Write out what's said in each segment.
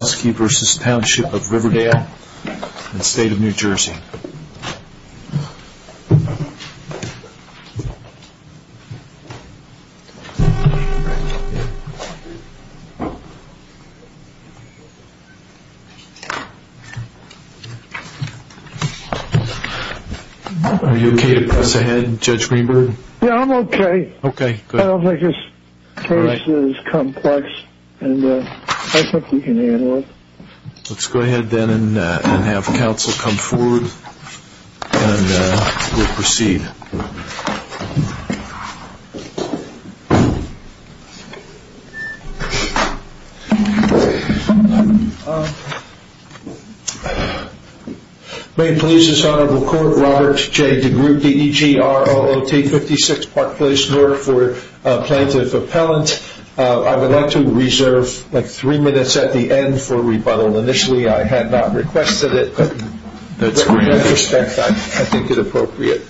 and State of New Jersey Are you okay to press ahead, Judge Greenberg? Yeah, I'm okay. Okay. I don't think this case is complex and I think we can handle it. Let's go ahead then and have counsel come forward and we'll proceed. May it please this honorable court, Robert J. DeGroote, D-E-G-R-O-O-T, 56 Park Place North for plaintiff appellant. I would like to reserve like three minutes at the end for rebuttal. Initially I had not requested it, but in that respect I think it appropriate.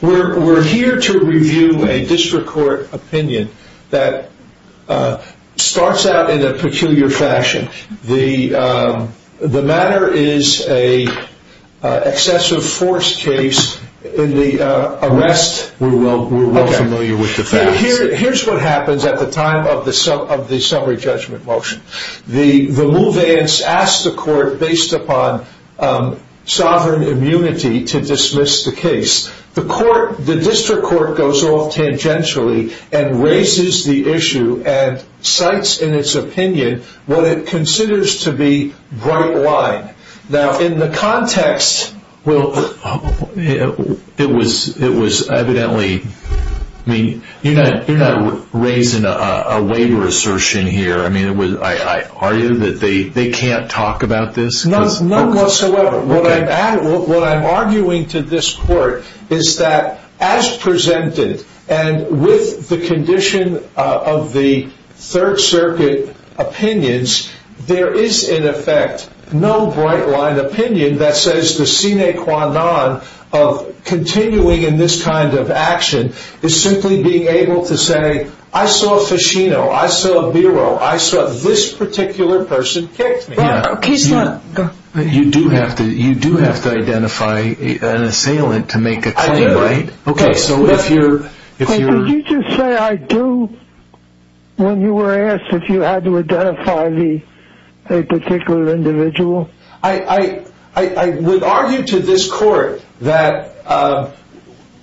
We're here to review a district court opinion that starts out in a peculiar fashion. The matter is an excessive force case in the arrest of the family. Here's what happens at the time of the summary judgment motion. The move ends, asks the court based upon sovereign immunity to dismiss the case. The court, the district court goes off tangentially and raises the issue and cites in its opinion what it considers to be bright line. Now in the context, it was evidently, you're not raising a waiver assertion here. I argue that they can't talk about this? None whatsoever. What I'm arguing to this court is that as presented and with the condition of the third circuit opinions, there is in effect no bright line opinion that says the sine qua non of continuing in this kind of action is simply being able to say, I saw Ficino, I saw Biro, I saw this particular person kicked me. You do have to identify an assailant to make a claim, right? I do. Could you just say I do when you were asked if you had to identify a particular individual? I would argue to this court that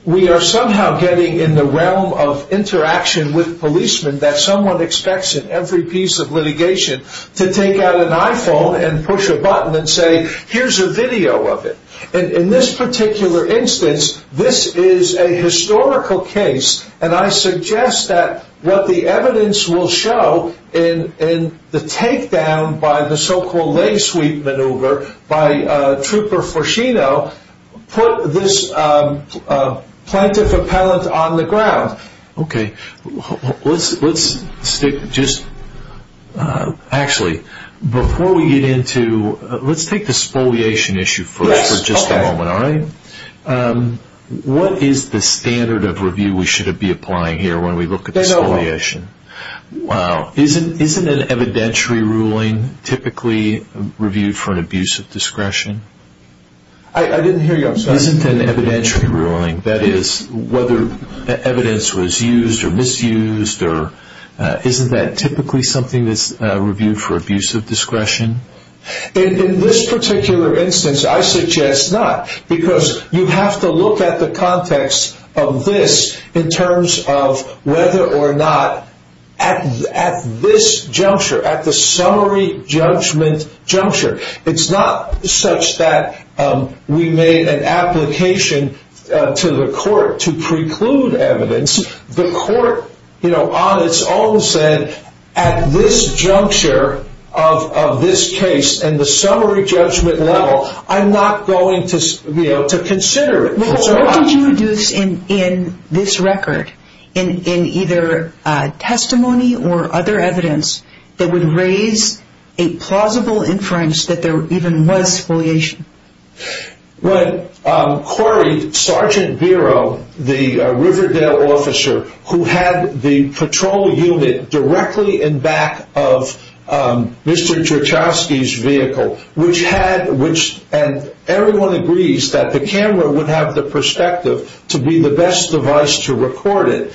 we are somehow getting in the realm of interaction with policemen that someone expects in every piece of litigation to take out an iPhone and push a button and say, here's a video of it. In this particular instance, this is a historical case. And I suggest that what the evidence will show in the takedown by the so-called leg sweep maneuver by Trooper Ficino put this plaintiff appellant on the ground. Let's take the spoliation issue for just a moment. What is the standard of review we should be applying here when we look at spoliation? Isn't an evidentiary ruling typically reviewed for an abuse of discretion? I didn't hear you. Isn't an evidentiary ruling, that is, whether evidence was used or misused, isn't that typically something that's reviewed for abuse of discretion? In this particular instance, I suggest not. Because you have to look at the context of this in terms of whether or not at this juncture, at the summary judgment juncture, it's not such that we made an application to the court to preclude evidence. The court on its own said, at this juncture of this case and the summary judgment level, I'm not going to consider it. What did you deduce in this record, in either testimony or other evidence, that would raise a plausible inference that there even was spoliation? Well, quarried Sergeant Biro, the Riverdale officer who had the patrol unit directly in back of Mr. Everyone agrees that the camera would have the perspective to be the best device to record it.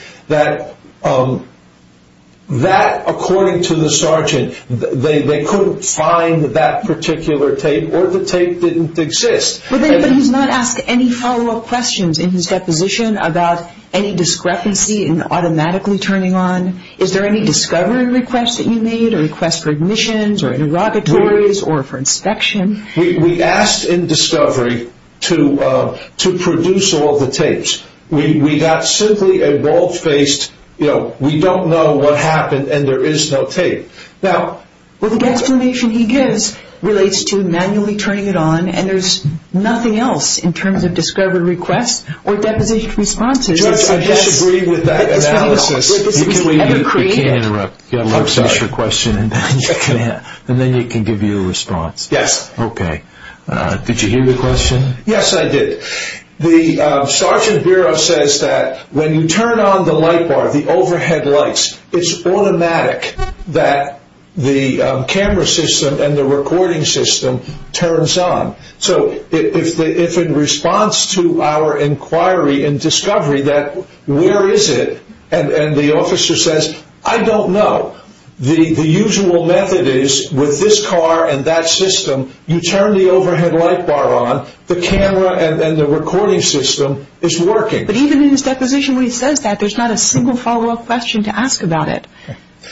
That, according to the sergeant, they couldn't find that particular tape or the tape didn't exist. But he's not asked any follow-up questions in his deposition about any discrepancy in automatically turning on. Is there any discovery request that you made or request for admissions or interrogatories or for inspection? We asked in discovery to produce all the tapes. We got simply a bald-faced, you know, we don't know what happened and there is no tape. Well, the explanation he gives relates to manually turning it on and there's nothing else in terms of discovery requests or deposition responses. Judge, I disagree with that analysis. You can't interrupt. You've got to let us finish your question and then you can give your response. Yes. Okay. Did you hear the question? Yes, I did. The Sergeant Biro says that when you turn on the light bar, the overhead lights, it's automatic that the camera system and the recording system turns on. So if in response to our inquiry and discovery that where is it and the officer says, I don't know. The usual method is with this car and that system, you turn the overhead light bar on, the camera and the recording system is working. But even in his deposition where he says that, there's not a single follow-up question to ask about it.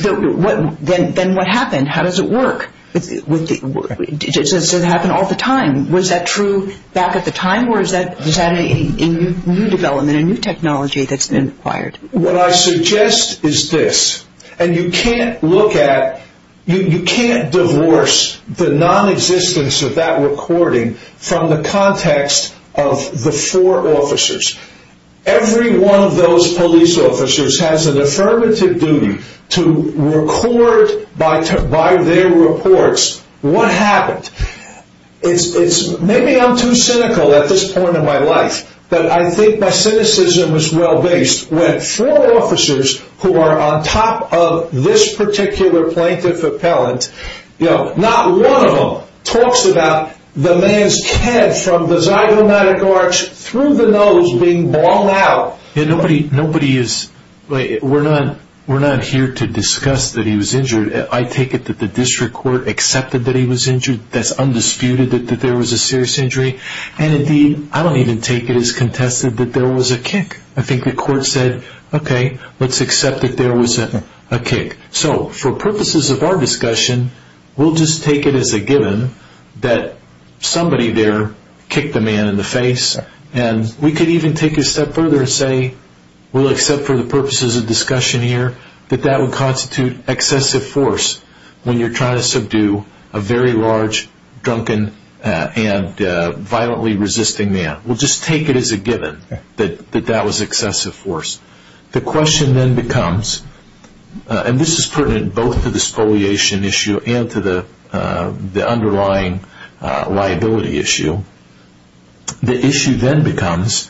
Then what happened? How does it work? Does it happen all the time? Was that true back at the time or is that a new development, a new technology that's been acquired? What I suggest is this, and you can't look at, you can't divorce the non-existence of that recording from the context of the four officers. Every one of those police officers has an affirmative duty to record by their reports what happened. Maybe I'm too cynical at this point in my life, but I think my cynicism is well-based. When four officers who are on top of this particular plaintiff appellant, not one of them talks about the man's head from the zygomatic arch through the nose being blown out. Nobody is, we're not here to discuss that he was injured. I take it that the district court accepted that he was injured. That's undisputed that there was a serious injury. Indeed, I don't even take it as contested that there was a kick. I think the court said, okay, let's accept that there was a kick. For purposes of our discussion, we'll just take it as a given that somebody there kicked the man in the face. We could even take it a step further and say, we'll accept for the purposes of discussion here, that that would constitute excessive force when you're trying to subdue a very large, drunken, and violently resisting man. We'll just take it as a given that that was excessive force. The question then becomes, and this is pertinent both to the spoliation issue and to the underlying liability issue, the issue then becomes,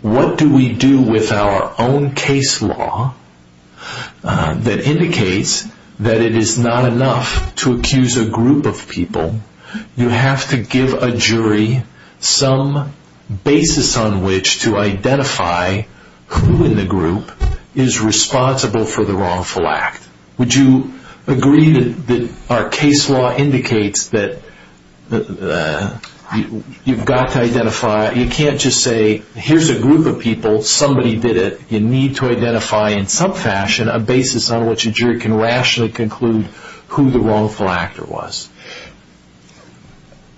what do we do with our own case law that indicates that it is not enough to accuse a group of people? You have to give a jury some basis on which to identify who in the group is responsible for the wrongful act. Would you agree that our case law indicates that you've got to identify, you can't just say, here's a group of people, somebody did it. You need to identify in some fashion a basis on which a jury can rationally conclude who the wrongful actor was.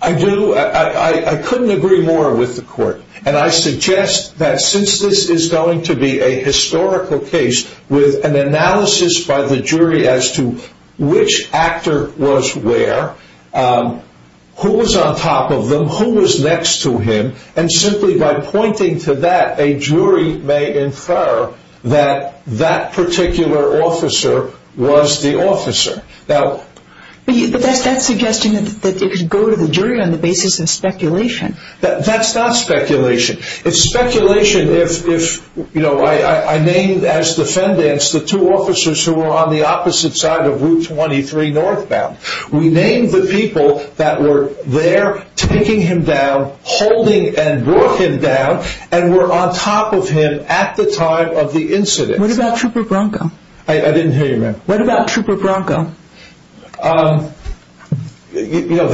I do. I couldn't agree more with the court. I suggest that since this is going to be a historical case with an analysis by the jury as to which actor was where, who was on top of them, who was next to him, and simply by pointing to that, a jury may infer that that particular officer was the officer. That's suggesting that it could go to the jury on the basis of speculation. That's not speculation. It's speculation if, you know, I named as defendants the two officers who were on the opposite side of Route 23 northbound. We named the people that were there taking him down, holding and brought him down, and were on top of him at the time of the incident. What about Trooper Bronco? I didn't hear you ma'am. What about Trooper Bronco? You know,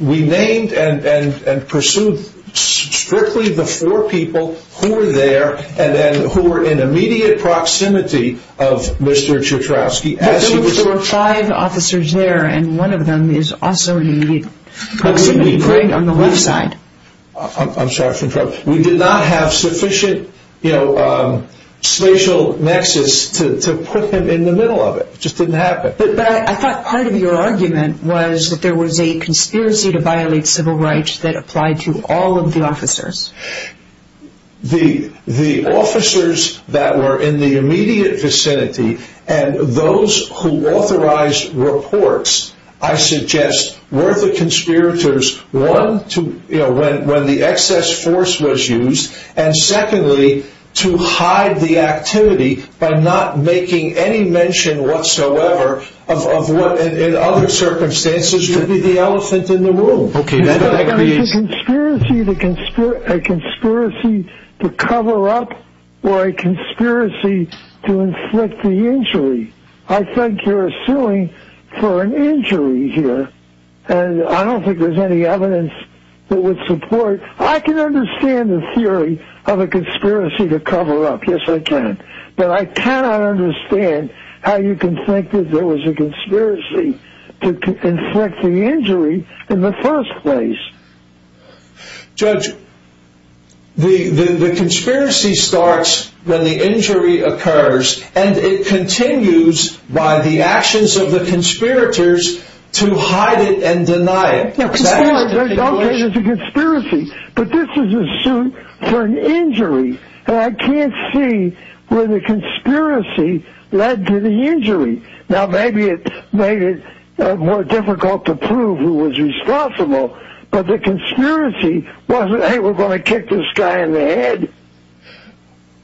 we named and pursued strictly the four people who were there and then who were in immediate proximity of Mr. Ciotrowski. But there were five officers there and one of them is also in immediate proximity on the left side. I'm sorry for interrupting. We did not have sufficient, you know, spatial nexus to put him in the middle of it. It just didn't happen. But I thought part of your argument was that there was a conspiracy to violate civil rights that applied to all of the officers. The officers that were in the immediate vicinity and those who authorized reports, I suggest, were the conspirators, one, when the excess force was used, and secondly, to hide the activity by not making any mention whatsoever of what, in other circumstances, would be the elephant in the room. Okay, that agrees. It's a conspiracy to cover up or a conspiracy to inflict the injury. I think you're suing for an injury here and I don't think there's any evidence that would support. I can understand the theory of a conspiracy to cover up. Yes, I can. But I cannot understand how you can think that there was a conspiracy to inflict the injury in the first place. Judge, the conspiracy starts when the injury occurs and it continues by the actions of the conspirators to hide it and deny it. Okay, there's a conspiracy, but this is a suit for an injury. And I can't see where the conspiracy led to the injury. Now, maybe it made it more difficult to prove who was responsible, but the conspiracy wasn't, hey, we're going to kick this guy in the head.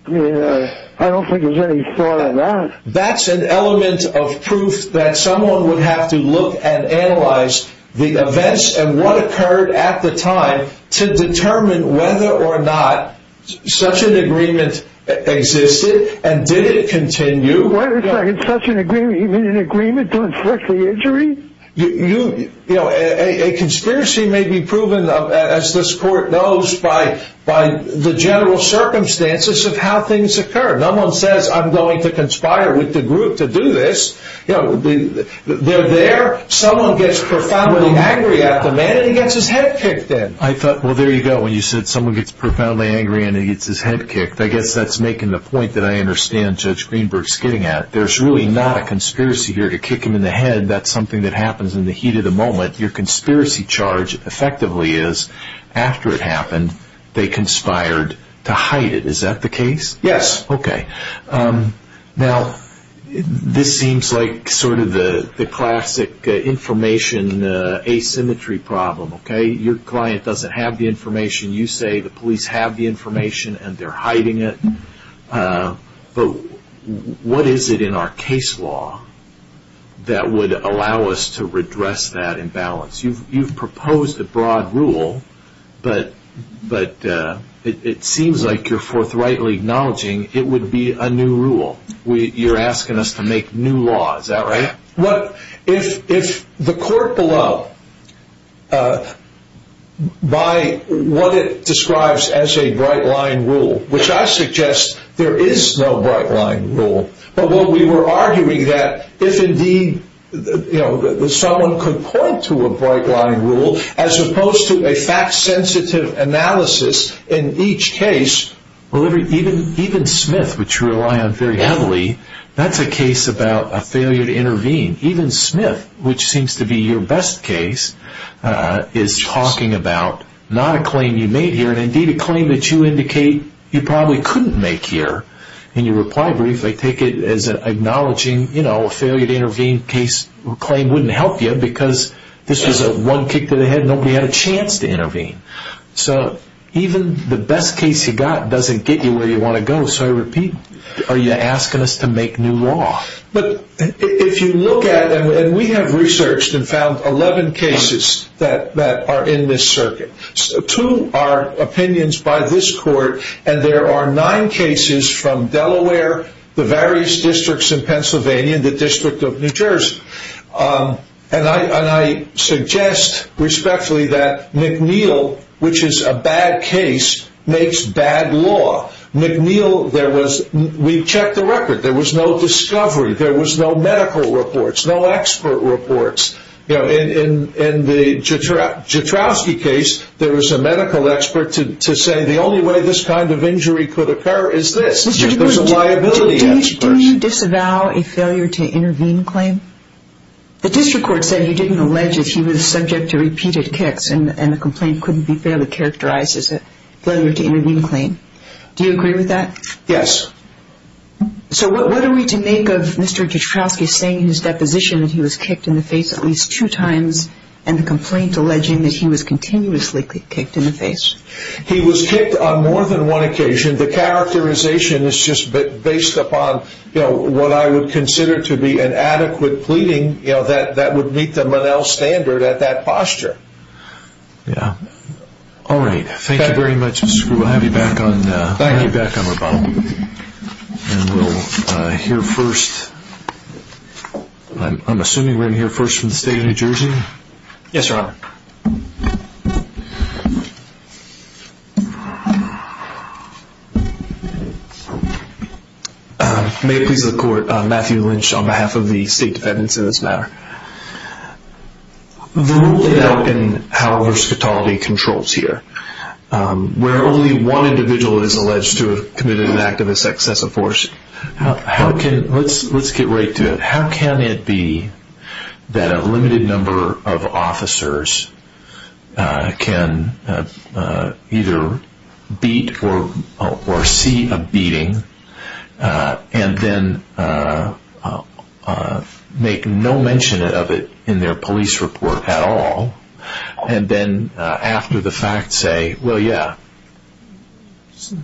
I don't think there's any thought on that. That's an element of proof that someone would have to look and analyze the events and what occurred at the time to determine whether or not such an agreement existed and did it continue. Wait a second, such an agreement, you mean an agreement to inflict the injury? A conspiracy may be proven, as this court knows, by the general circumstances of how things occur. No one says, I'm going to conspire with the group to do this. They're there, someone gets profoundly angry at the man and he gets his head kicked in. I thought, well, there you go, when you said someone gets profoundly angry and he gets his head kicked, I guess that's making the point that I understand Judge Greenberg's getting at. There's really not a conspiracy here to kick him in the head. That's something that happens in the heat of the moment. Your conspiracy charge effectively is, after it happened, they conspired to hide it. Is that the case? Yes. Okay. Now, this seems like sort of the classic information asymmetry problem. Your client doesn't have the information. You say the police have the information and they're hiding it. But what is it in our case law that would allow us to redress that imbalance? You've proposed a broad rule, but it seems like you're forthrightly acknowledging it would be a new rule. You're asking us to make new law. Is that right? If the court below, by what it describes as a bright line rule, which I suggest there is no bright line rule, but what we were arguing that if indeed someone could point to a bright line rule, as opposed to a fact-sensitive analysis in each case. Even Smith, which you rely on very heavily, that's a case about a failure to intervene. Even Smith, which seems to be your best case, is talking about not a claim you made here, and indeed a claim that you indicate you probably couldn't make here. In your reply brief, they take it as acknowledging a failure to intervene claim wouldn't help you because this was a one kick to the head. Nobody had a chance to intervene. So even the best case you got doesn't get you where you want to go. So I repeat, are you asking us to make new law? If you look at it, and we have researched and found 11 cases that are in this circuit. Two are opinions by this court, and there are nine cases from Delaware, the various districts in Pennsylvania, and the District of New Jersey. And I suggest respectfully that McNeil, which is a bad case, makes bad law. McNeil, we checked the record, there was no discovery, there was no medical reports, no expert reports. In the Jatrowski case, there was a medical expert to say the only way this kind of injury could occur is this. There was a liability expert. Do you disavow a failure to intervene claim? The district court said you didn't allege that he was subject to repeated kicks and the complaint couldn't be fairly characterized as a failure to intervene claim. Do you agree with that? Yes. So what are we to make of Mr. Jatrowski saying in his deposition that he was kicked in the face at least two times and the complaint alleging that he was continuously kicked in the face? He was kicked on more than one occasion. The characterization is just based upon what I would consider to be an adequate pleading that would meet the McNeil standard at that posture. All right. Thank you very much. We'll have you back on rebuttal. And we'll hear first, I'm assuming we're going to hear first from the state of New Jersey? Yes, Your Honor. May it please the court, Matthew Lynch on behalf of the state defendants in this matter. The rule laid out in how versatility controls here, where only one individual is alleged to have committed an act of excessive force. Let's get right to it. How can it be that a limited number of officers can either beat or see a beating and then make no mention of it in their police report at all and then after the fact say, well, yeah,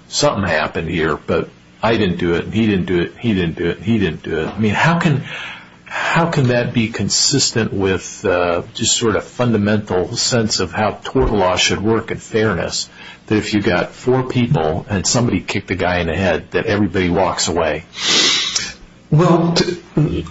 something happened here, but I didn't do it and he didn't do it and he didn't do it and he didn't do it? I mean, how can that be consistent with just sort of fundamental sense of how tort law should work in fairness that if you've got four people and somebody kicked a guy in the head that everybody walks away? Well, all the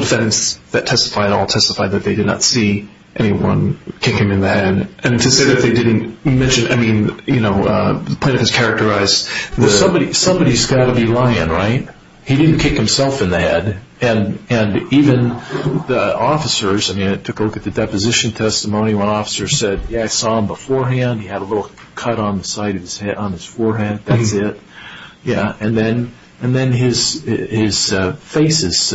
defendants that testified all testified that they did not see anyone kick him in the head. And to say that they didn't mention, I mean, the plaintiff has characterized that somebody's got to be lying, right? He didn't kick himself in the head. And even the officers, I mean, I took a look at the deposition testimony. One officer said, yeah, I saw him beforehand. He had a little cut on the side of his forehead. That's it. Yeah, and then his face is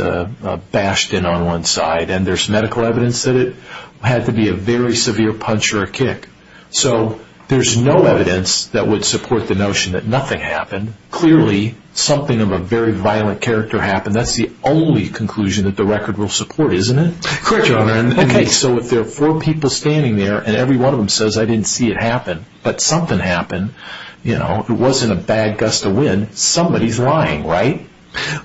bashed in on one side and there's medical evidence that it had to be a very severe punch or a kick. So there's no evidence that would support the notion that nothing happened. Clearly, something of a very violent character happened. That's the only conclusion that the record will support, isn't it? Correct, Your Honor. Okay, so if there are four people standing there and every one of them says, I didn't see it happen, but something happened, you know, it wasn't a bad gust of wind, somebody's lying, right?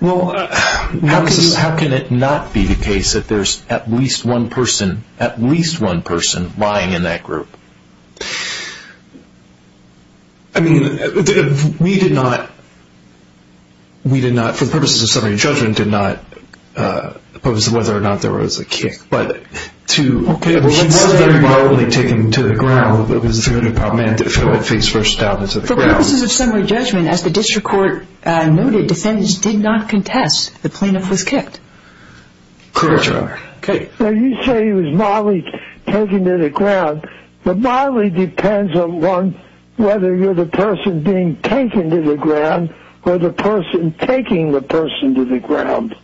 Well, how can it not be the case that there's at least one person lying in that group? I mean, we did not, for the purposes of summary and judgment, did not oppose whether or not there was a kick. But to consider it mildly taken to the ground, it was the Federal Department to fill a face first down into the ground. For purposes of summary judgment, as the district court noted, defendants did not contest the plaintiff was kicked. Correct, Your Honor. Okay, so you say it was mildly taken to the ground, or the person taking the person to the ground.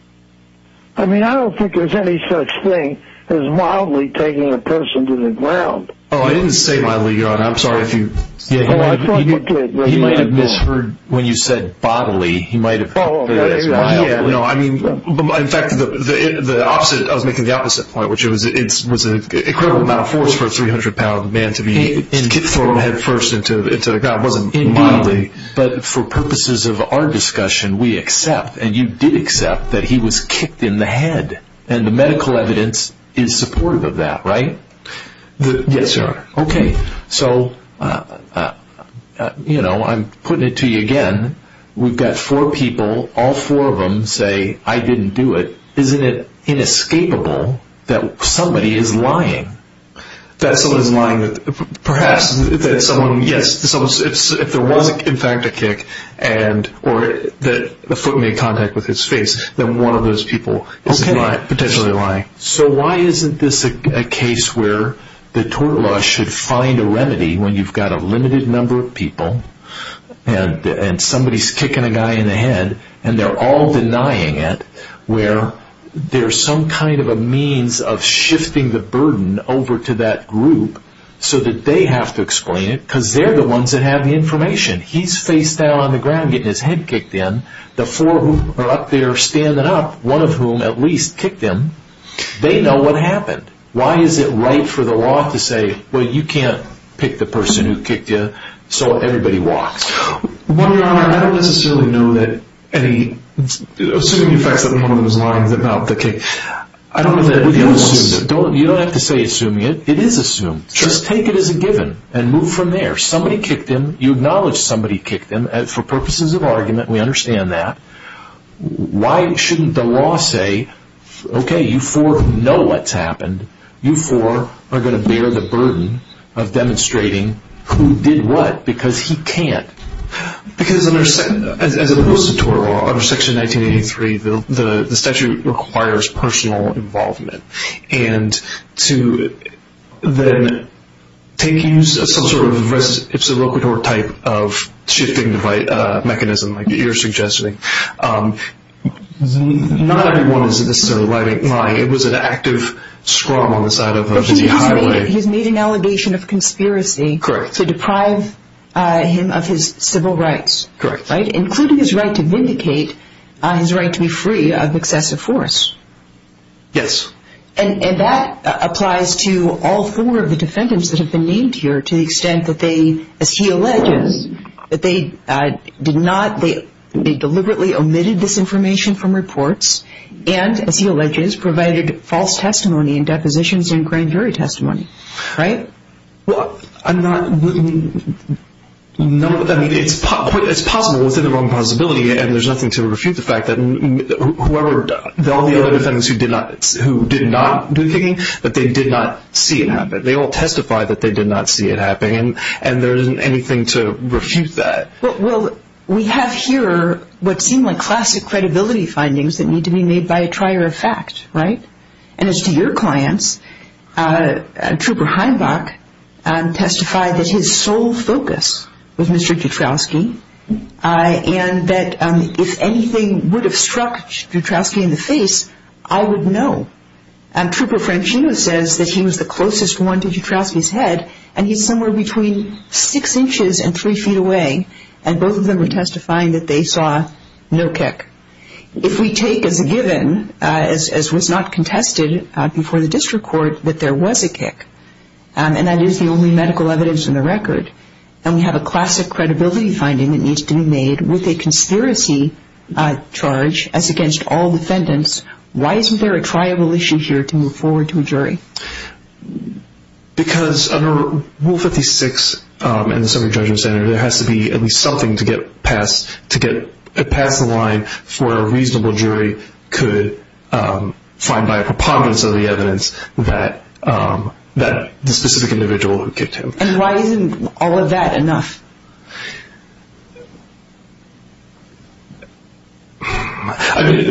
I mean, I don't think there's any such thing as mildly taking a person to the ground. Oh, I didn't say mildly, Your Honor. I'm sorry if you... Oh, I thought you did. He might have misheard when you said bodily. He might have... Oh, okay. No, I mean, in fact, the opposite, I was making the opposite point, which was it was an incredible amount of force for a 300-pound man to be thrown headfirst into the ground. I wasn't mildly. Indeed. But for purposes of our discussion, we accept, and you did accept, that he was kicked in the head. And the medical evidence is supportive of that, right? Yes, Your Honor. Okay. So, you know, I'm putting it to you again. We've got four people, all four of them say, I didn't do it. Isn't it inescapable that somebody is lying? That someone is lying. Perhaps that someone, yes, if there was, in fact, a kick or that a foot made contact with his face, then one of those people is potentially lying. So why isn't this a case where the tort law should find a remedy when you've got a limited number of people and somebody is kicking a guy in the head and they're all denying it, where there's some kind of a means of shifting the burden over to that group so that they have to explain it, because they're the ones that have the information. He's face down on the ground getting his head kicked in. The four who are up there standing up, one of whom at least kicked him, they know what happened. Why is it right for the law to say, well, you can't pick the person who kicked you, so everybody walks? Well, Your Honor, I don't necessarily know that any... Assuming you faxed them one of those lines about the kick. I don't know that it was... You don't have to say assuming it. It is assumed. Just take it as a given and move from there. Somebody kicked him. You acknowledge somebody kicked him. For purposes of argument, we understand that. Why shouldn't the law say, okay, you four know what's happened. You four are going to bear the burden of demonstrating who did what, because he can't. Because under Section 1983, the statute requires personal involvement. And to then take use of some sort of ipsa roquitur type of shifting mechanism, like you're suggesting, not everyone is necessarily lying. It was an active scrum on the side of the highway. He's made an allegation of conspiracy to deprive him of his civil rights, including his right to vindicate, his right to be free of excessive force. Yes. And that applies to all four of the defendants that have been named here to the extent that they, as he alleges, that they did not, they deliberately omitted this information from reports and, as he alleges, provided false testimony and depositions in grand jury testimony. Right? Well, I'm not, I mean, it's possible within the realm of possibility, and there's nothing to refute the fact that whoever, all the other defendants who did not do the kicking, that they did not see it happen. They all testified that they did not see it happening. And there isn't anything to refute that. Well, we have here what seem like classic credibility findings that need to be made by a trier of fact. Right? And as to your clients, Trooper Heinbach testified that his sole focus was Mr. Jutrowski and that if anything would have struck Jutrowski in the face, I would know. Trooper Francino says that he was the closest one to Jutrowski's head and he's somewhere between six inches and three feet away, and both of them were testifying that they saw no kick. If we take as a given, as was not contested before the district court, that there was a kick, and that is the only medical evidence in the record, then we have a classic credibility finding that needs to be made with a conspiracy charge, as against all defendants. Why isn't there a triable issue here to move forward to a jury? Because under Rule 56 in the Soviet Judgment Center, there has to be at least something to get past the line for a reasonable jury could find by a preponderance of the evidence that the specific individual who kicked him. And why isn't all of that enough? I think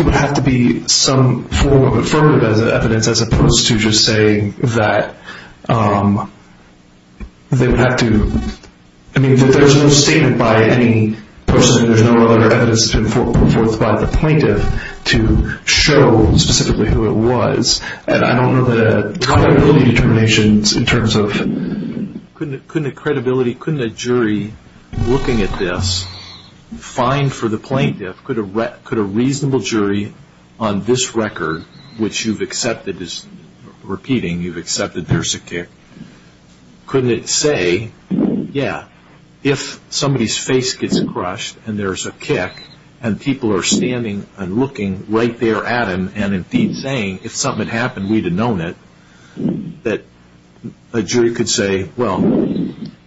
it would have to be some form of affirmative evidence, as opposed to just saying that there's no statement by any person, there's no other evidence put forth by the plaintiff to show specifically who it was. And I don't know the credibility determinations in terms of... Couldn't a jury looking at this find for the plaintiff, could a reasonable jury on this record, which you've accepted, is repeating you've accepted there's a kick, couldn't it say, yeah, if somebody's face gets crushed and there's a kick, and people are standing and looking right there at him and indeed saying if something had happened, we'd have known it, that a jury could say, well,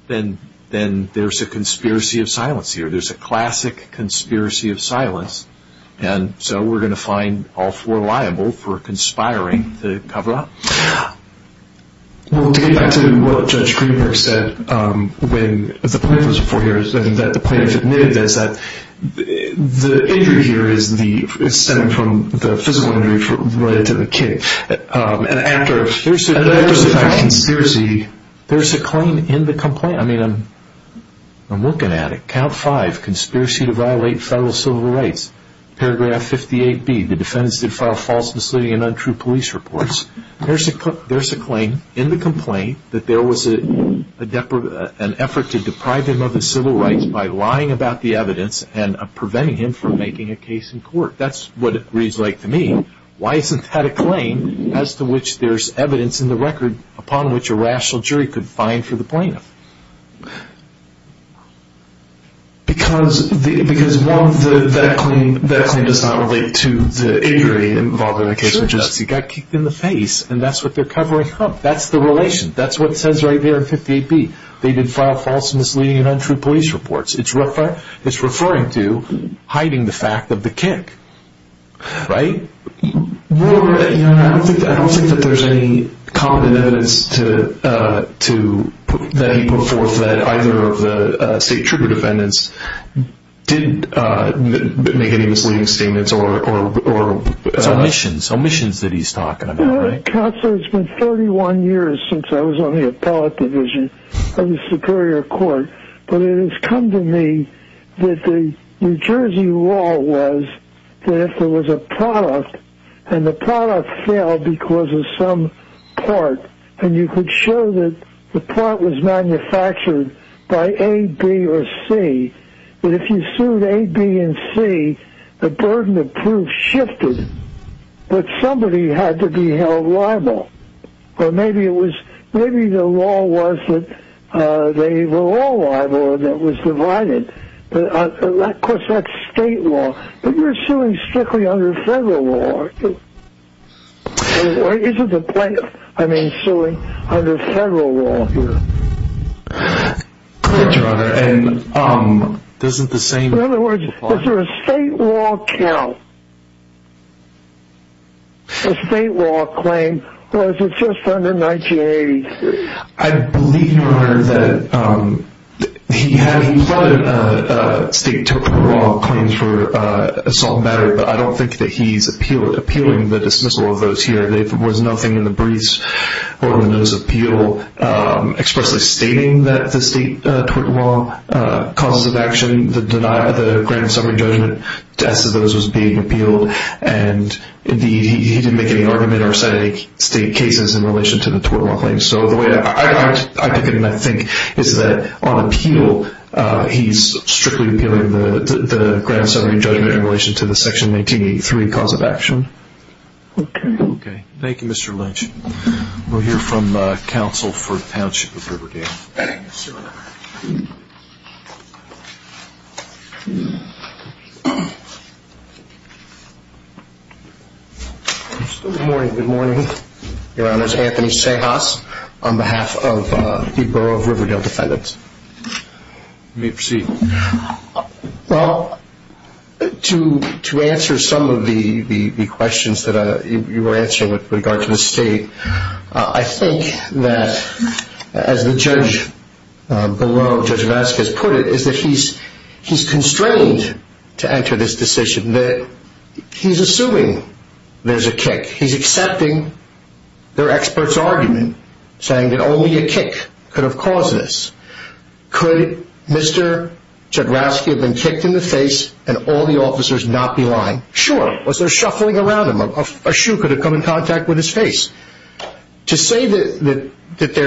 then there's a conspiracy of silence here. There's a classic conspiracy of silence. And so we're going to find all four liable for conspiring to cover up. Well, to get back to what Judge Greenberg said when the plaintiff was before here, and that the plaintiff admitted this, that the injury here is stemming from the physical injury related to the kick. There's a claim in the complaint. I mean, I'm looking at it. Count five, conspiracy to violate federal civil rights. Paragraph 58B, the defendant's defiled false, misleading, and untrue police reports. There's a claim in the complaint that there was an effort to deprive him of his civil rights by lying about the evidence and preventing him from making a case in court. That's what it reads like to me. Why isn't that a claim as to which there's evidence in the record upon which a rational jury could find for the plaintiff? Because, one, that claim does not relate to the injury involved in the case. He got kicked in the face, and that's what they're covering up. That's the relation. That's what it says right there in 58B. They did file false, misleading, and untrue police reports. It's referring to hiding the fact of the kick. Right? I don't think that there's any common evidence that he put forth that either of the state trigger defendants did make any misleading statements. It's omissions. It's omissions that he's talking about. Counsel, it's been 31 years since I was on the appellate division of the Superior Court, but it has come to me that the New Jersey law was that if there was a product and the product failed because of some part, and you could show that the part was manufactured by A, B, or C, that if you sued A, B, and C, the burden of proof shifted, but somebody had to be held liable. Or maybe the law was that they were all liable and it was divided. Of course, that's state law, but you're suing strictly under federal law. I mean, suing under federal law here. Yes, Your Honor. In other words, is there a state law count, a state law claim, or is it just under 1980? I believe, Your Honor, that he plotted state law claims for assault and battery, but I don't think that he's appealing the dismissal of those here. There was nothing in the briefs or in the notice of appeal expressly stating that the state tort law causes of action, the grand summary judgment as to those was being appealed, and, indeed, he didn't make any argument or cite any state cases in relation to the tort law claims. So the way I take it and I think is that on appeal, he's strictly appealing the grand summary judgment in relation to the Section 1983 cause of action. Okay. Okay. Thank you, Mr. Lynch. We'll hear from counsel for the Township of Riverdale. Yes, sir. Good morning. Good morning, Your Honor. Anthony Sejas on behalf of the Borough of Riverdale Defendants. You may proceed. Well, to answer some of the questions that you were answering with regard to the state, I think that, as the judge below, Judge Vazquez, put it, is that he's constrained to enter this decision. He's assuming there's a kick. He's accepting their expert's argument, saying that only a kick could have caused this. Could Mr. Jodorowsky have been kicked in the face and all the officers not be lying? Sure. Was there shuffling around him? A shoe could have come in contact with his face. To say that the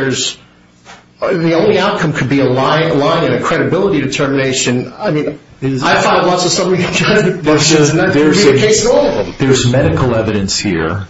only outcome could be a lie and a credibility determination, I mean, I find lots of stuff we can try to do, but it's not going to be the case at all. Well, there's medical evidence here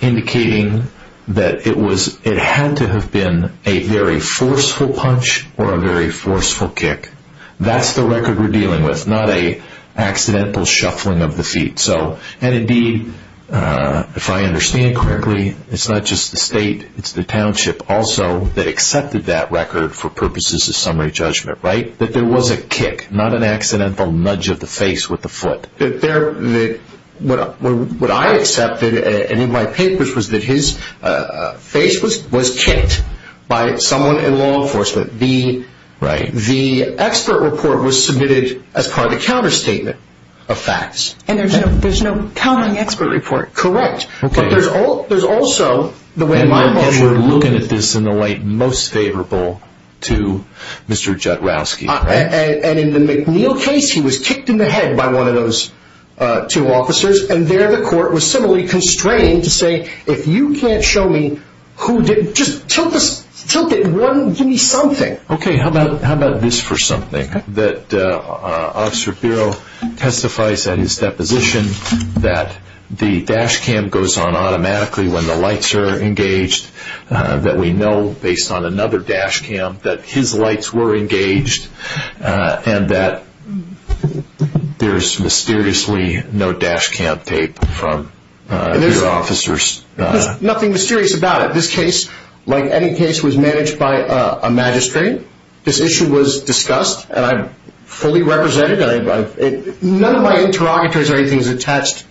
indicating that it had to have been a very forceful punch or a very forceful kick. That's the record we're dealing with, not an accidental shuffling of the feet. And, indeed, if I understand correctly, it's not just the state. It's the township also that accepted that record for purposes of summary judgment, right, that there was a kick, not an accidental nudge of the face with the foot. What I accepted, and in my papers, was that his face was kicked by someone in law enforcement. The expert report was submitted as part of the counterstatement of facts. And there's no counting expert report. Correct. But there's also the way my boss was looking at this in the light most favorable to Mr. Jodorowsky. And in the McNeil case, he was kicked in the head by one of those two officers, and there the court was similarly constrained to say, if you can't show me who did, just tilt this, tilt it one, give me something. Okay, how about this for something? Okay. That our officer bureau testifies at his deposition that the dash cam goes on automatically when the lights are engaged, that we know based on another dash cam that his lights were engaged, and that there's mysteriously no dash cam tape from the officers. There's nothing mysterious about it. This case, like any case, was managed by a magistrate. This issue was discussed, and I fully represented it. None of my interrogatories or anything is attached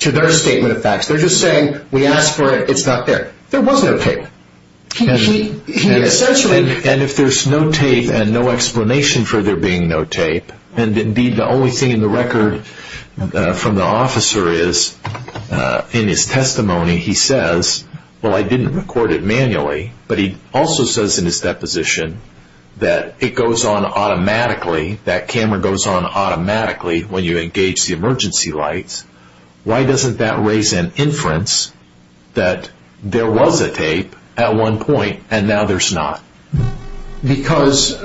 to their statement of facts. They're just saying we asked for it. It's not there. There was no tape. And if there's no tape and no explanation for there being no tape, and indeed the only thing in the record from the officer is in his testimony he says, well, I didn't record it manually. But he also says in his deposition that it goes on automatically, that camera goes on automatically when you engage the emergency lights. Why doesn't that raise an inference that there was a tape at one point and now there's not? Because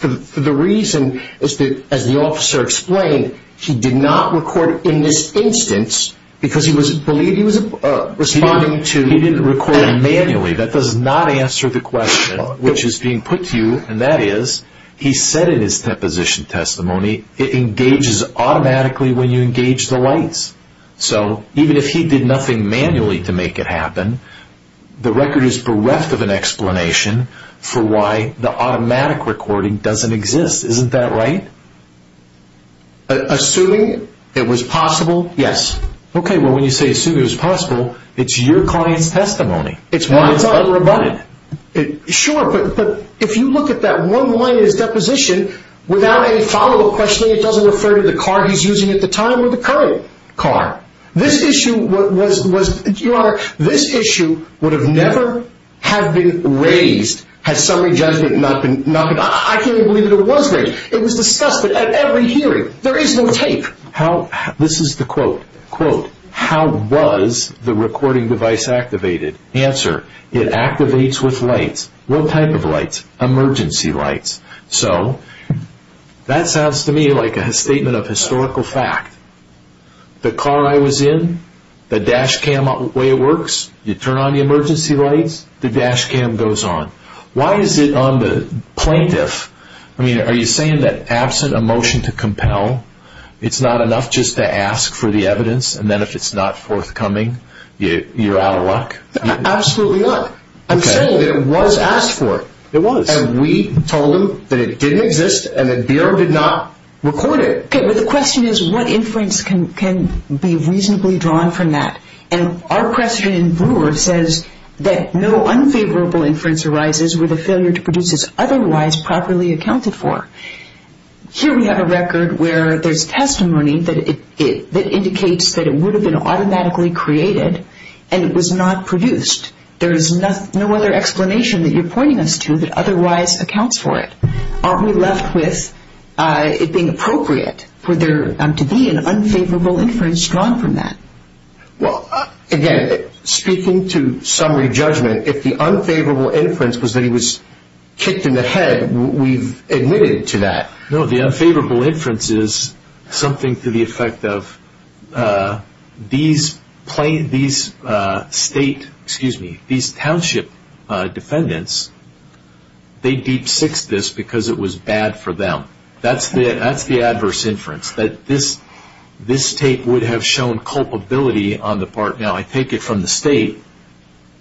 the reason is that, as the officer explained, he did not record in this instance because he believed he was responding to... He didn't record it manually. That does not answer the question which is being put to you, and that is he said in his deposition testimony it engages automatically when you engage the lights. So even if he did nothing manually to make it happen, the record is bereft of an explanation for why the automatic recording doesn't exist. Isn't that right? Assuming it was possible, yes. Okay, well, when you say assuming it was possible, it's your client's testimony. Well, it's unrebutted. Sure, but if you look at that one line in his deposition, without any follow-up questioning, it doesn't refer to the car he's using at the time or the current car. This issue was... Your Honor, this issue would have never have been raised had summary judgment not been... I can't even believe that it was raised. It was discussed at every hearing. There is no tape. This is the quote. How was the recording device activated? Answer, it activates with lights. What type of lights? Emergency lights. So that sounds to me like a statement of historical fact. The car I was in, the dash cam way it works, you turn on the emergency lights, the dash cam goes on. Why is it on the plaintiff? I mean, are you saying that absent a motion to compel, it's not enough just to ask for the evidence, and then if it's not forthcoming, you're out of luck? Absolutely not. Okay. We're saying that it was asked for. It was. And we told him that it didn't exist, and the Bureau did not record it. Okay, but the question is what inference can be reasonably drawn from that? And our question in Brewer says that no unfavorable inference arises with a failure to produce as otherwise properly accounted for. Here we have a record where there's testimony that indicates that it would have been automatically created and it was not produced. There is no other explanation that you're pointing us to that otherwise accounts for it. Aren't we left with it being appropriate for there to be an unfavorable inference drawn from that? Well, again, speaking to summary judgment, if the unfavorable inference was that he was kicked in the head, we've admitted to that. No, the unfavorable inference is something to the effect of these state, excuse me, these township defendants, they deep-sixed this because it was bad for them. That's the adverse inference, that this tape would have shown culpability on the part. Now, I take it from the state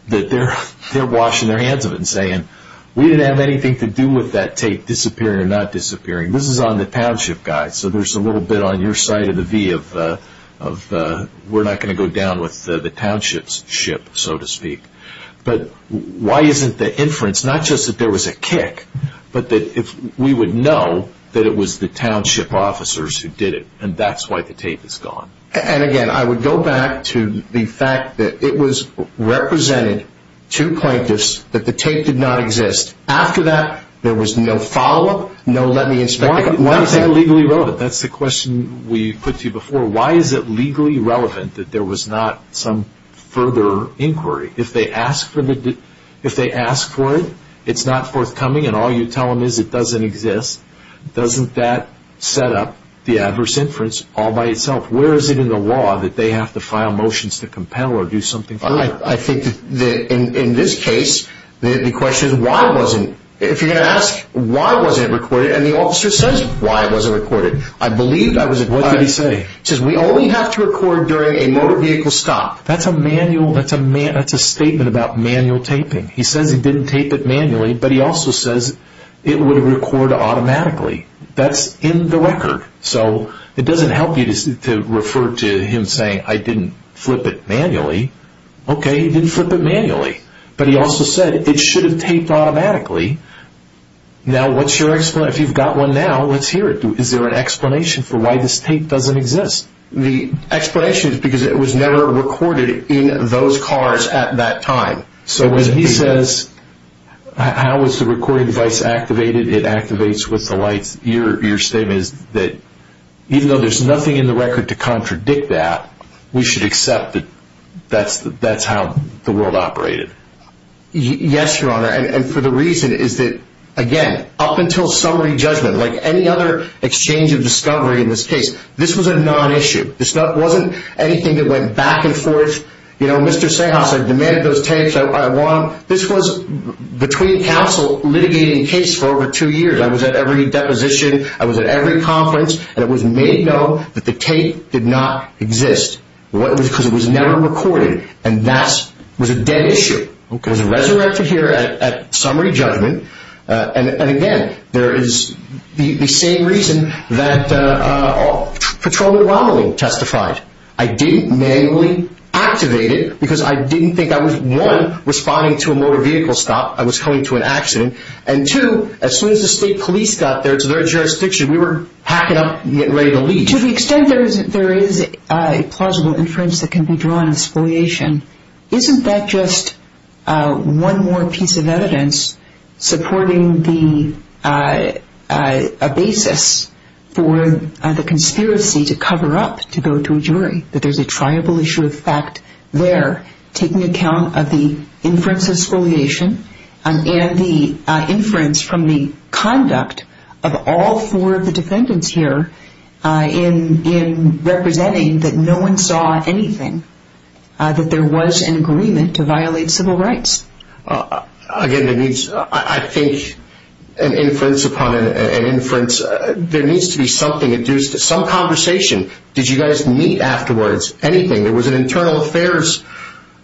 that they're washing their hands of it and saying, we didn't have anything to do with that tape disappearing or not disappearing. This is on the township guys, so there's a little bit on your side of the V of we're not going to go down with the township's ship, so to speak. But why isn't the inference, not just that there was a kick, but that if we would know that it was the township officers who did it, and that's why the tape is gone. And again, I would go back to the fact that it was represented to plaintiffs that the tape did not exist. After that, there was no follow-up, no let me inspect it, nothing. Why is that legally relevant? That's the question we put to you before. Why is it legally relevant that there was not some further inquiry? If they ask for it, it's not forthcoming, and all you tell them is it doesn't exist, doesn't that set up the adverse inference all by itself? Where is it in the law that they have to file motions to compel or do something further? I think that in this case, the question is why wasn't... If you're going to ask why wasn't it recorded, and the officer says why it wasn't recorded, I believe that was... What did he say? He says we only have to record during a motor vehicle stop. That's a manual, that's a statement about manual taping. He says he didn't tape it manually, but he also says it would record automatically. That's in the record, so it doesn't help you to refer to him saying I didn't flip it manually. Okay, he didn't flip it manually, but he also said it should have taped automatically. Now what's your explanation? If you've got one now, let's hear it. Is there an explanation for why this tape doesn't exist? The explanation is because it was never recorded in those cars at that time. So when he says how was the recording device activated, it activates with the lights, your statement is that even though there's nothing in the record to contradict that, we should accept that that's how the world operated. Yes, Your Honor, and for the reason is that, again, up until summary judgment, like any other exchange of discovery in this case, this was a non-issue. This wasn't anything that went back and forth. You know, Mr. Sahas, I demanded those tapes. This was between counsel litigating a case for over two years. I was at every deposition. I was at every conference. And it was made known that the tape did not exist because it was never recorded. And that was a dead issue. It was resurrected here at summary judgment. And, again, there is the same reason that patrolman Rommeling testified. I didn't manually activate it because I didn't think I was, one, responding to a motor vehicle stop. I was coming to an accident. And, two, as soon as the state police got there to their jurisdiction, we were packing up and getting ready to leave. To the extent there is a plausible inference that can be drawn in spoliation, isn't that just one more piece of evidence supporting a basis for the conspiracy to cover up, to go to a jury, that there's a triable issue of fact there, taking account of the inference of spoliation and the inference from the conduct of all four of the defendants here in representing that no one saw anything, that there was an agreement to violate civil rights. Again, there needs, I think, an inference upon an inference. There needs to be something, some conversation. Did you guys meet afterwards, anything? There was an internal affairs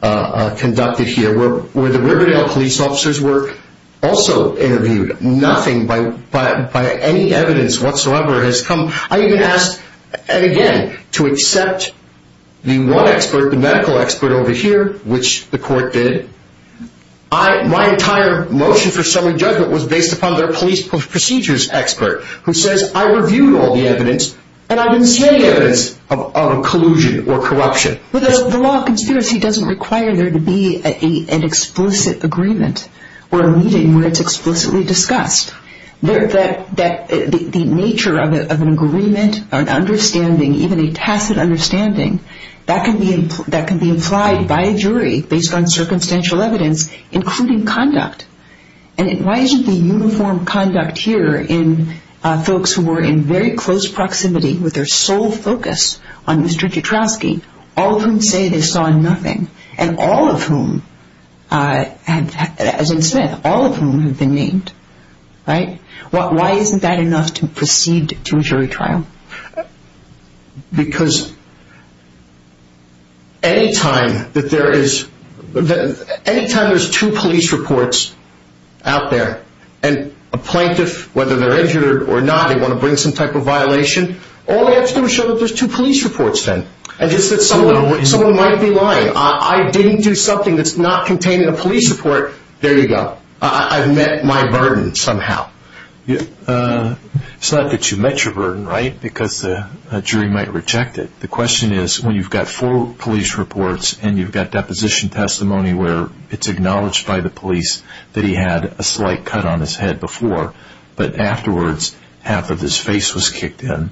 conducted here where the Riverdale police officers were also interviewed. Nothing by any evidence whatsoever has come. I even asked, again, to accept the one expert, the medical expert over here, which the court did. My entire motion for summary judgment was based upon their police procedures expert, who says, I reviewed all the evidence and I didn't see any evidence of collusion or corruption. The law of conspiracy doesn't require there to be an explicit agreement or a meeting where it's explicitly discussed. The nature of an agreement, an understanding, even a tacit understanding, that can be implied by a jury based on circumstantial evidence, including conduct. And why isn't the uniform conduct here in folks who were in very close proximity with their sole focus on Mr. Jutrowski, all of whom say they saw nothing, and all of whom, as in Smith, all of whom have been named, right? Why isn't that enough to proceed to a jury trial? Because any time that there is, any time there's two police reports out there, and a plaintiff, whether they're injured or not, they want to bring some type of violation, all they have to do is show that there's two police reports then. And just that someone might be lying. I didn't do something that's not contained in a police report. There you go. I've met my burden somehow. It's not that you've met your burden, right? Because a jury might reject it. The question is, when you've got four police reports and you've got deposition testimony where it's acknowledged by the police that he had a slight cut on his head before, but afterwards half of his face was kicked in,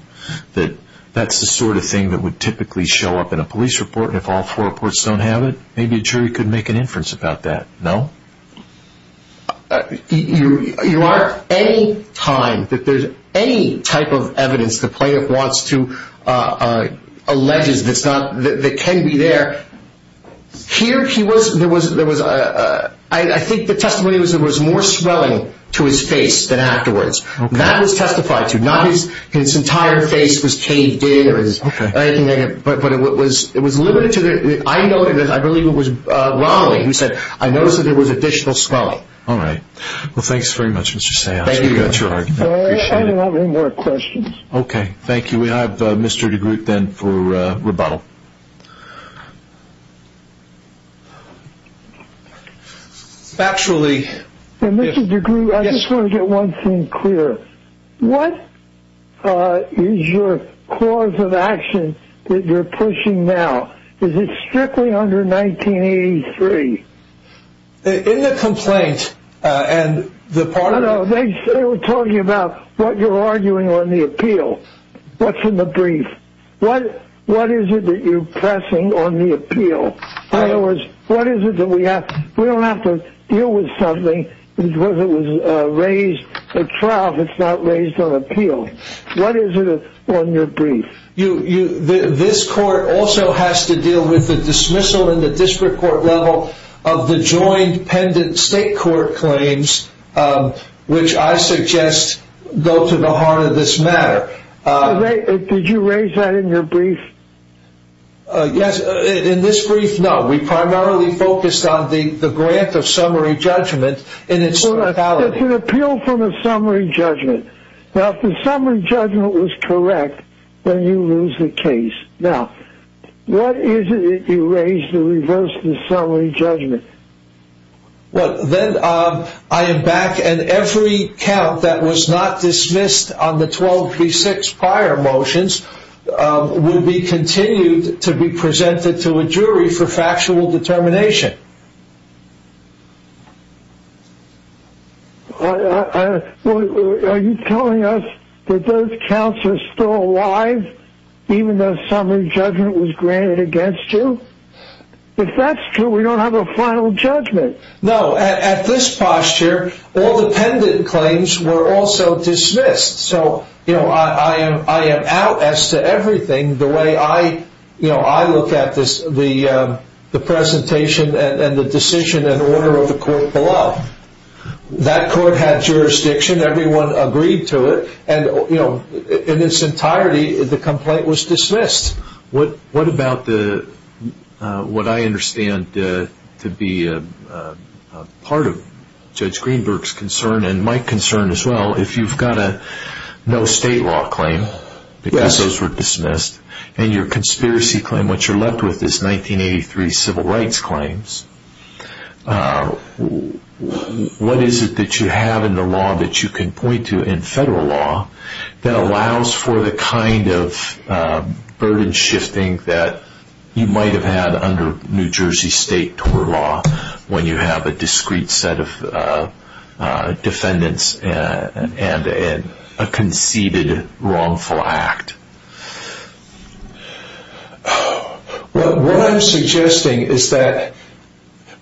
that that's the sort of thing that would typically show up in a police report, and if all four reports don't have it, maybe a jury could make an inference about that. No? You aren't any time that there's any type of evidence the plaintiff wants to, alleges that can be there. Here, I think the testimony was there was more swelling to his face than afterwards. That was testified to. Not his entire face was caved in or anything like that, but it was limited to the, I believe it was Romley who said, I noticed that there was additional swelling. All right. Well, thanks very much, Mr. Sayag. Thank you very much. I appreciate it. If you have any more questions. Okay. Thank you. We have Mr. DeGroote then for rebuttal. Actually. Mr. DeGroote, I just want to get one thing clear. What is your cause of action that you're pushing now? Is it strictly under 1983? In the complaint and the part of it. I'm talking about what you're arguing on the appeal. What's in the brief? What is it that you're pressing on the appeal? In other words, what is it that we have? We don't have to deal with something because it was raised, a trial if it's not raised on appeal. What is it on your brief? This court also has to deal with the dismissal in the district court level of the state court claims, which I suggest go to the heart of this matter. Did you raise that in your brief? Yes. In this brief, no. We primarily focused on the grant of summary judgment in its totality. It's an appeal from a summary judgment. Now, if the summary judgment was correct, then you lose the case. Now, what is it that you raised to reverse the summary judgment? Well, then I am back, and every count that was not dismissed on the 12p6 prior motions will be continued to be presented to a jury for factual determination. Okay. Are you telling us that those counts are still alive, even though summary judgment was granted against you? If that's true, we don't have a final judgment. No. At this posture, all the pendant claims were also dismissed. I am out as to everything the way I look at the presentation and the decision and order of the court below. That court had jurisdiction. Everyone agreed to it. In its entirety, the complaint was dismissed. What about what I understand to be part of Judge Greenberg's concern and my concern as well? If you've got a no state law claim, because those were dismissed, and your conspiracy claim, what you're left with is 1983 civil rights claims, what is it that you have in the law that you can point to in federal law that allows for the kind of burden shifting that you might have had under New Jersey state law when you have a discrete set of defendants and a conceded wrongful act? What I'm suggesting is that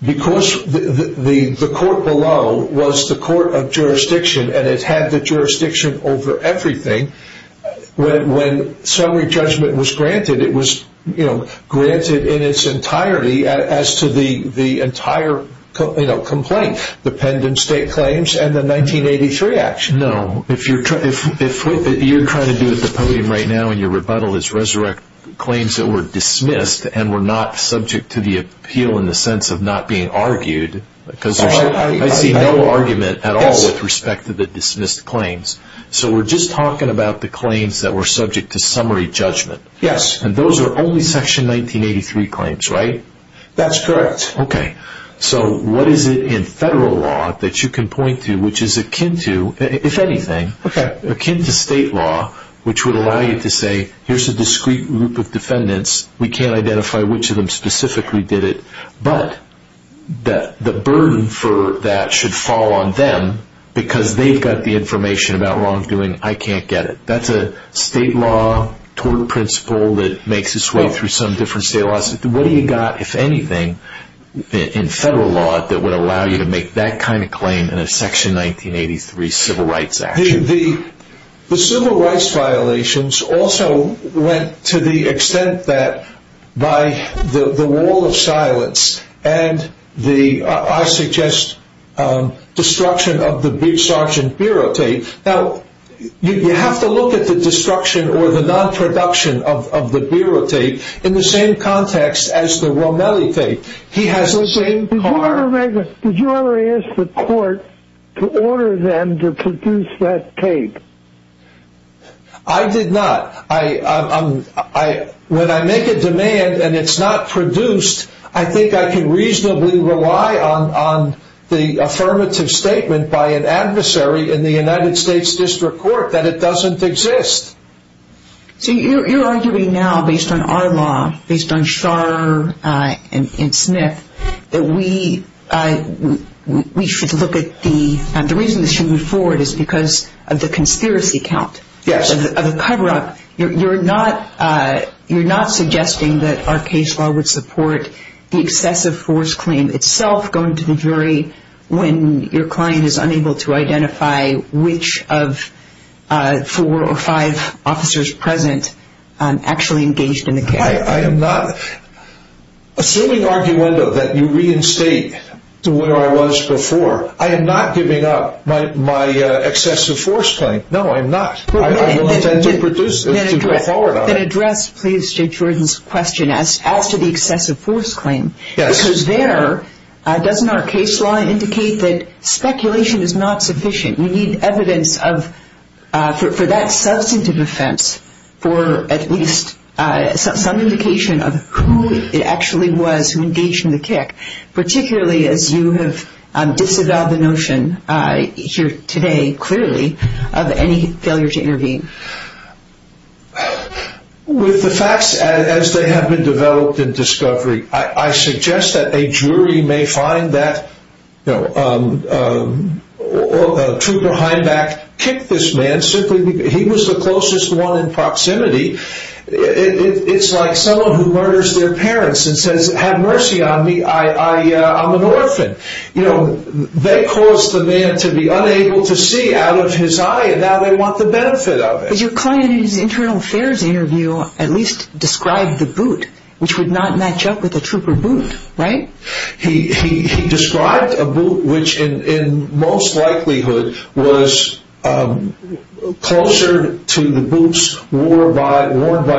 because the court below was the court of jurisdiction and it had the jurisdiction over everything, when summary judgment was granted, it was granted in its entirety as to the entire complaint, the pendant state claims and the 1983 action. No. What you're trying to do at the podium right now in your rebuttal is resurrect claims that were dismissed and were not subject to the appeal in the sense of not being argued. I see no argument at all with respect to the dismissed claims. So we're just talking about the claims that were subject to summary judgment Yes. And those are only section 1983 claims, right? That's correct. Okay. So what is it in federal law that you can point to which is akin to, if anything, akin to state law which would allow you to say, here's a discrete group of defendants, we can't identify which of them specifically did it, but the burden for that should fall on them because they've got the information about wrongdoing, I can't get it. That's a state law tort principle that makes its way through some different state laws. What do you got, if anything, in federal law that would allow you to make that kind of claim in a section 1983 civil rights action? The civil rights violations also went to the extent that by the wall of silence and the, I suggest, destruction of the Sergeant Bureau tape. Now, you have to look at the destruction or the non-production of the Bureau tape in the same context as the Romelli tape. He has the same part. Did you ever ask the court to order them to produce that tape? I did not. When I make a demand and it's not produced, I think I can reasonably rely on the affirmative statement by an adversary in the United States District Court that it doesn't exist. So you're arguing now, based on our law, based on Schar and Smith, that we should look at the, the reason this should move forward is because of the conspiracy count. Yes. You're not suggesting that our case law would support the excessive force claim itself going to the jury when your client is unable to identify which of four or five officers present actually engaged in the case. I am not. Assuming arguendo that you reinstate to where I was before, I am not giving up my excessive force claim. No, I'm not. I will attempt to produce it to go forward on it. Then address, please, Judge Jordan's question as to the excessive force claim. Yes. Because there, doesn't our case law indicate that speculation is not sufficient? We need evidence of, for that substantive offense, for at least some indication of who it actually was who engaged in the kick, particularly as you have disavowed the notion here today, clearly, of any failure to intervene. With the facts as they have been developed in discovery, I suggest that a jury may find that, you know, Trooper Heimbach kicked this man simply because he was the closest one in proximity. It's like someone who murders their parents and says, Have mercy on me, I'm an orphan. You know, they caused the man to be unable to see out of his eye and now they want the benefit of it. But your client in his internal affairs interview at least described the boot, which would not match up with a trooper boot, right? He described a boot which in most likelihood was closer to the boots worn by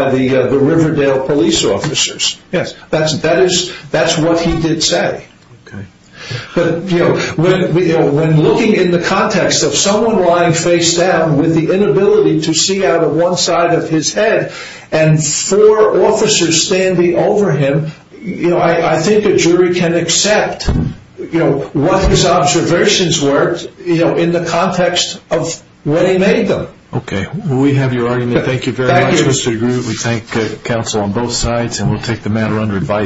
the Riverdale police officers. Yes. That's what he did say. Okay. But, you know, when looking in the context of someone lying face down with the inability to see out of one side of his head and four officers standing over him, I think a jury can accept what his observations were in the context of where he made them. Okay. We have your argument. Thank you very much, Mr. DeGroote. Thank you. We thank counsel on both sides and we'll take the matter under advice.